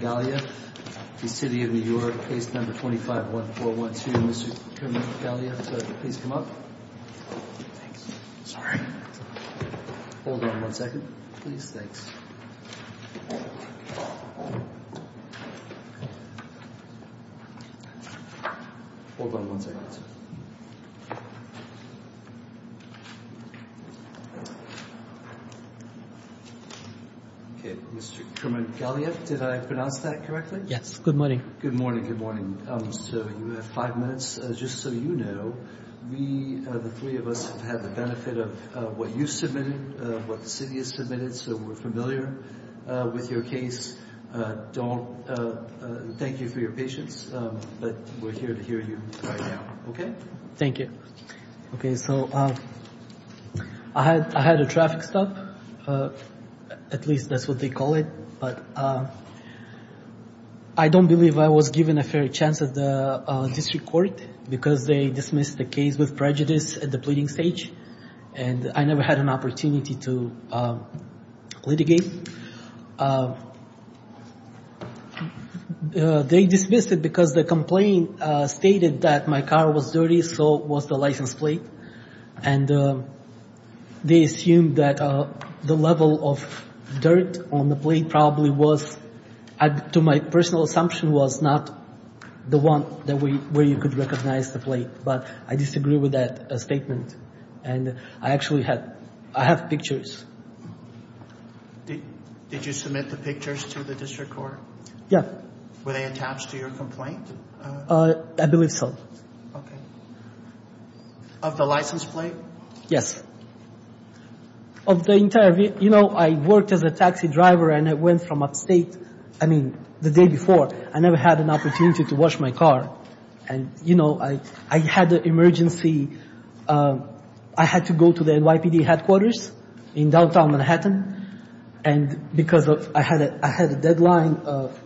Case No. 25-1412. Mr. Kermangaliyev, could you please come up? Sorry. Hold on one second, please. Thanks. Hold on one second. All right. Okay. Mr. Kermangaliyev, did I pronounce that correctly? Yes. Good morning. Good morning, good morning. So you have five minutes. Just so you know, we, the three of us, have had the benefit of what you submitted, what the city has submitted, so we're familiar with your case. Thank you for your patience, but we're here to hear you right now, okay? Thank you. Okay, so I had a traffic stop, at least that's what they call it, but I don't believe I was given a fair chance at the district court because they dismissed the case with prejudice at the pleading stage, and I never had an opportunity to litigate. They dismissed it because the complaint stated that my car was dirty, so was the license plate, and they assumed that the level of dirt on the plate probably was, to my personal assumption, was not the one where you could recognize the plate, but I disagree with that statement, and I actually have pictures. Did you submit the pictures to the district court? Yes. Were they attached to your complaint? I believe so. Okay. Of the license plate? Yes. Of the entire, you know, I worked as a taxi driver, and I went from upstate, I mean, the day before. I never had an opportunity to wash my car, and, you know, I had an emergency. I had to go to the NYPD headquarters in downtown Manhattan, and because I had a deadline of,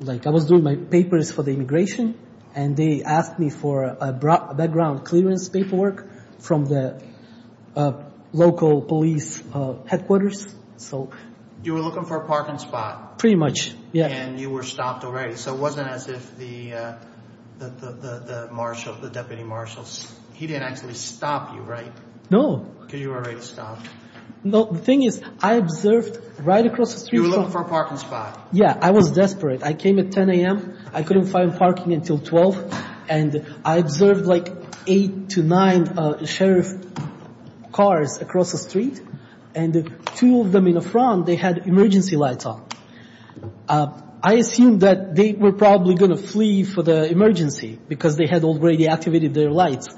like, I was doing my papers for the immigration, and they asked me for a background clearance paperwork from the local police headquarters, so. You were looking for a parking spot. Pretty much, yeah. And you were stopped already, so it wasn't as if the marshal, the deputy marshal, he didn't actually stop you, right? No. Because you were already stopped. No, the thing is, I observed right across the street from... You were looking for a parking spot. Yeah, I was desperate. I came at 10 a.m., I couldn't find parking until 12, and I observed, like, eight to nine sheriff cars across the street, and two of them in the front, they had emergency lights on. I assumed that they were probably going to flee for the emergency because they had already activated their lights.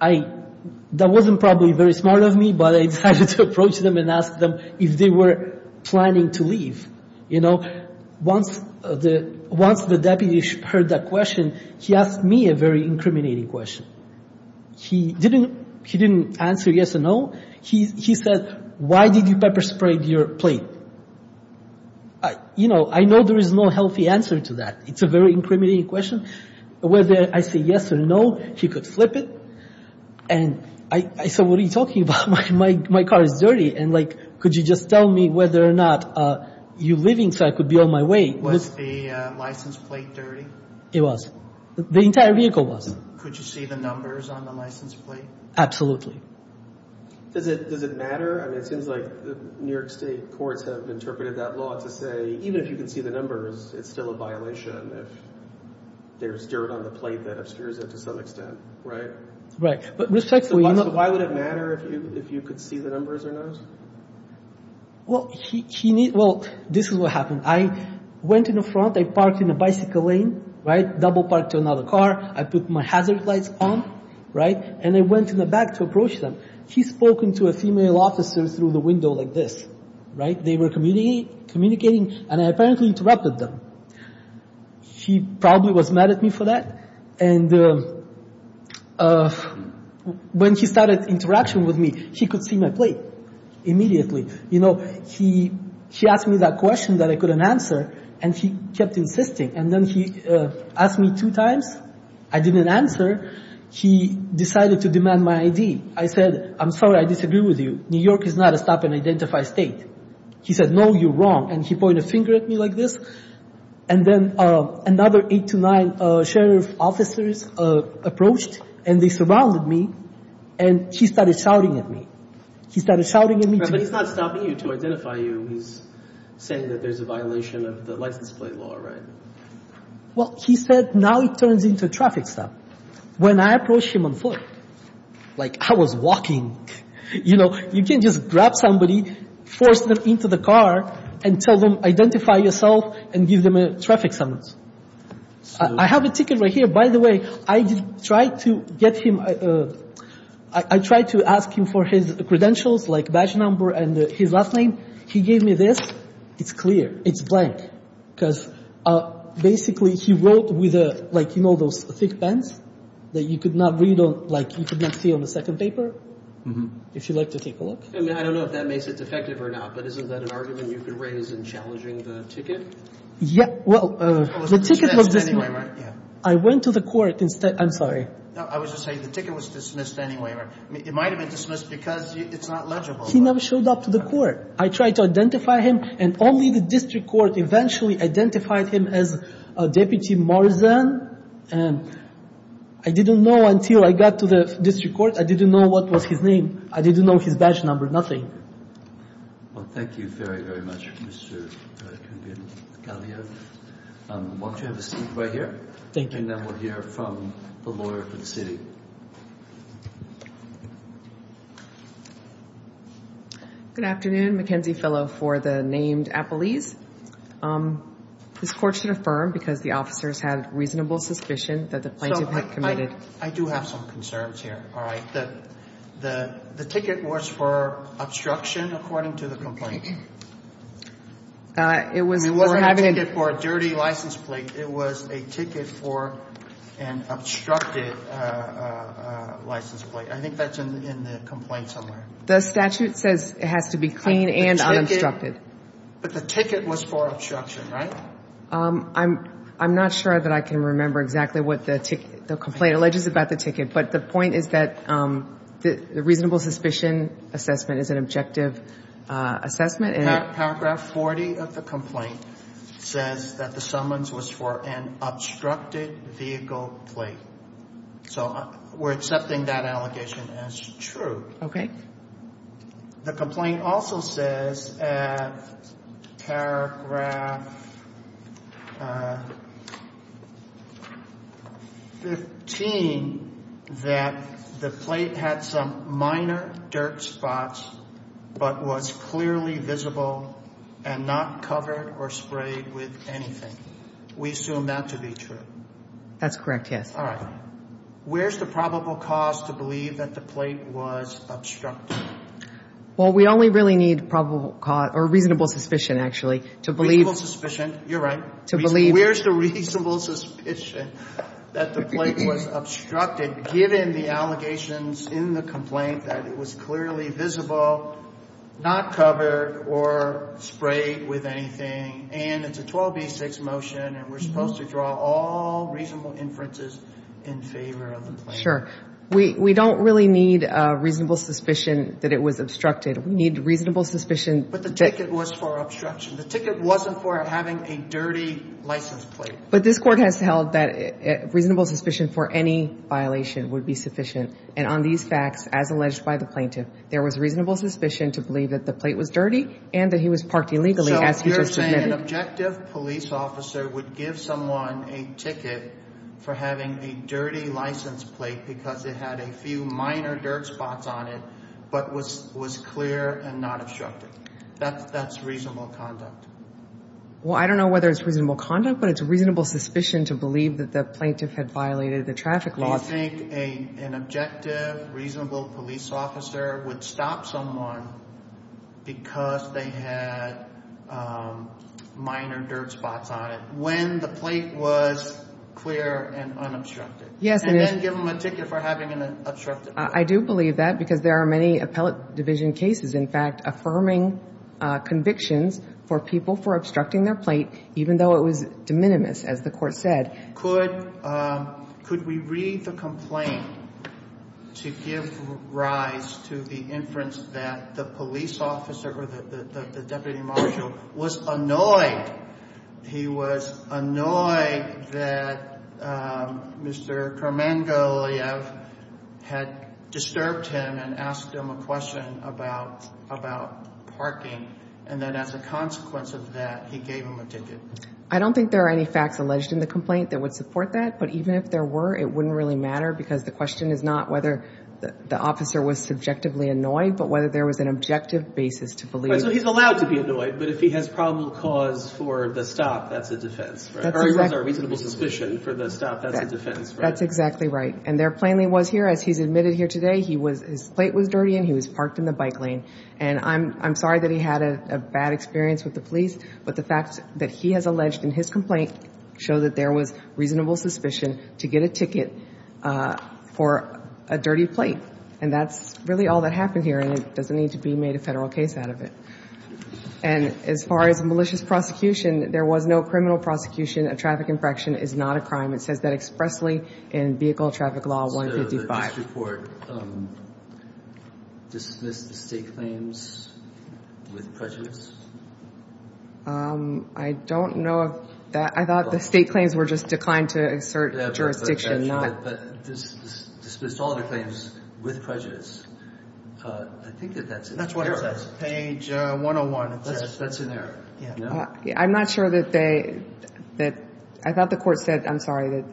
That wasn't probably very smart of me, but I decided to approach them and ask them if they were planning to leave. Once the deputy heard that question, he asked me a very incriminating question. He didn't answer yes or no. He said, why did you pepper spray your plate? I know there is no healthy answer to that. It's a very incriminating question. Whether I say yes or no, he could flip it. And I said, what are you talking about? My car is dirty, and, like, could you just tell me whether or not you're leaving so I could be on my way? Was the license plate dirty? It was. The entire vehicle was. Could you see the numbers on the license plate? Absolutely. Does it matter? I mean, it seems like the New York State courts have interpreted that law to say, even if you can see the numbers, it's still a violation if there's dirt on the plate that obscures it to some extent, right? Right. So why would it matter if you could see the numbers or not? Well, this is what happened. I went in the front. I parked in a bicycle lane, right, double parked to another car. I put my hazard lights on, right, and I went in the back to approach them. He's spoken to a female officer through the window like this, right? They were communicating, and I apparently interrupted them. He probably was mad at me for that, and when he started interaction with me, he could see my plate immediately. You know, he asked me that question that I couldn't answer, and he kept insisting. And then he asked me two times. I didn't answer. He decided to demand my ID. I said, I'm sorry, I disagree with you. New York is not a stop-and-identify state. He said, no, you're wrong, and he pointed a finger at me like this, and then another eight to nine sheriff officers approached, and they surrounded me, and he started shouting at me. He started shouting at me. But he's not stopping you to identify you. He's saying that there's a violation of the license plate law, right? Well, he said, now it turns into a traffic stop. When I approached him on foot, like I was walking, you know, you can't just grab somebody, force them into the car, and tell them, identify yourself, and give them a traffic summons. I have a ticket right here. By the way, I tried to get him. I tried to ask him for his credentials, like badge number and his last name. He gave me this. It's clear. It's blank. Because basically he wrote with, like, you know, those thick pens that you could not read on, like you could not see on the second paper, if you'd like to take a look. I mean, I don't know if that makes it defective or not, but isn't that an argument you could raise in challenging the ticket? Yeah. Well, the ticket was dismissed. I went to the court instead. I'm sorry. No, I was just saying the ticket was dismissed anyway. It might have been dismissed because it's not legible. He never showed up to the court. I tried to identify him, and only the district court eventually identified him as Deputy Morrison. And I didn't know until I got to the district court. I didn't know what was his name. I didn't know his badge number. Nothing. Well, thank you very, very much, Mr. Kalia. Why don't you have a seat right here. Thank you. And then we'll hear from the lawyer for the city. Thank you. Good afternoon. Mackenzie Fellow for the named Appelese. This court should affirm because the officers had reasonable suspicion that the plaintiff had committed. I do have some concerns here. The ticket was for obstruction, according to the complaint. It wasn't a ticket for a dirty license plate. It was a ticket for an obstructed license plate. I think that's in the complaint somewhere. The statute says it has to be clean and unobstructed. But the ticket was for obstruction, right? I'm not sure that I can remember exactly what the complaint alleges about the ticket. But the point is that the reasonable suspicion assessment is an objective assessment. Paragraph 40 of the complaint says that the summons was for an obstructed vehicle plate. So we're accepting that allegation as true. The complaint also says, paragraph 15, that the plate had some minor dirt spots but was clearly visible and not covered or sprayed with anything. We assume that to be true. That's correct, yes. All right. Where's the probable cause to believe that the plate was obstructed? Well, we only really need probable cause or reasonable suspicion, actually, to believe. Reasonable suspicion, you're right. To believe. Where's the reasonable suspicion that the plate was obstructed, given the allegations in the complaint that it was clearly visible, not covered or sprayed with anything? And it's a 12B6 motion, and we're supposed to draw all reasonable inferences in favor of the plaintiff. Sure. We don't really need reasonable suspicion that it was obstructed. We need reasonable suspicion. But the ticket was for obstruction. The ticket wasn't for having a dirty license plate. But this Court has held that reasonable suspicion for any violation would be sufficient. And on these facts, as alleged by the plaintiff, there was reasonable suspicion to believe that the plate was dirty and that he was parked illegally, as he just admitted. An objective police officer would give someone a ticket for having a dirty license plate because it had a few minor dirt spots on it but was clear and not obstructed. That's reasonable conduct. Well, I don't know whether it's reasonable conduct, but it's reasonable suspicion to believe that the plaintiff had violated the traffic laws. So you think an objective, reasonable police officer would stop someone because they had minor dirt spots on it when the plate was clear and unobstructed? Yes. And then give them a ticket for having an obstructed plate. I do believe that because there are many appellate division cases, in fact, affirming convictions for people for obstructing their plate even though it was de minimis, as the Court said. Could we read the complaint to give rise to the inference that the police officer or the deputy marshal was annoyed? He was annoyed that Mr. Kermangoliev had disturbed him and asked him a question about parking. And then as a consequence of that, he gave him a ticket. I don't think there are any facts alleged in the complaint that would support that. But even if there were, it wouldn't really matter because the question is not whether the officer was subjectively annoyed but whether there was an objective basis to believe. So he's allowed to be annoyed, but if he has probable cause for the stop, that's a defense, right? Or he was a reasonable suspicion for the stop, that's a defense, right? That's exactly right. And there plainly was here. As he's admitted here today, his plate was dirty and he was parked in the bike lane. And I'm sorry that he had a bad experience with the police, but the facts that he has alleged in his complaint show that there was reasonable suspicion to get a ticket for a dirty plate. And that's really all that happened here, and it doesn't need to be made a Federal case out of it. And as far as malicious prosecution, there was no criminal prosecution. A traffic infraction is not a crime. It says that expressly in Vehicle Traffic Law 155. So you're saying that the judge or the court dismissed the State claims with prejudice? I don't know. I thought the State claims were just declined to assert jurisdiction. No, but dismissed all the claims with prejudice. I think that that's in there. Page 101. That's in there, yeah. I'm not sure that they, that, I thought the court said, I'm sorry, that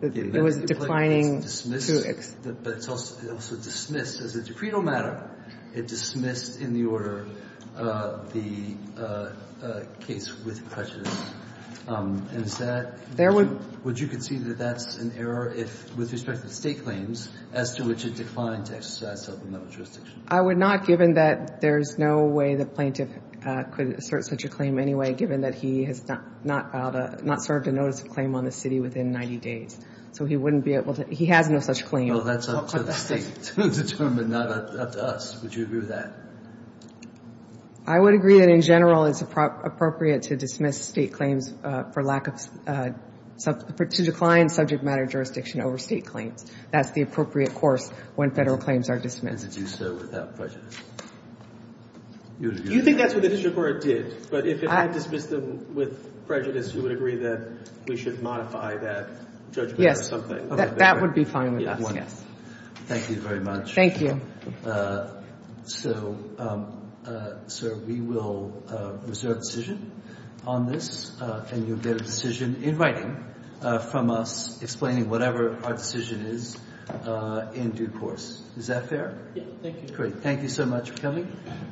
there was declining to exert jurisdiction. But it also dismissed, as a decreto matter, it dismissed in the order the case with prejudice. And is that, would you concede that that's an error if, with respect to the State claims, as to which it declined to exercise self-liminal jurisdiction? I would not, given that there's no way the plaintiff could assert such a claim anyway, given that he has not filed a, not served a notice of claim on the city within 90 days. So he wouldn't be able to, he has no such claim. Well, that's up to the State to determine, not up to us. Would you agree with that? I would agree that, in general, it's appropriate to dismiss State claims for lack of, to decline subject matter jurisdiction over State claims. That's the appropriate course when Federal claims are dismissed. And to do so without prejudice. You think that's what the district court did? But if we dismiss them with prejudice, you would agree that we should modify that judgment or something? Yes, that would be fine with us, yes. Thank you very much. Thank you. So, sir, we will reserve decision on this. And you'll get a decision in writing from us explaining whatever our decision is in due course. Is that fair? Yes, thank you. Great. Thank you so much for coming.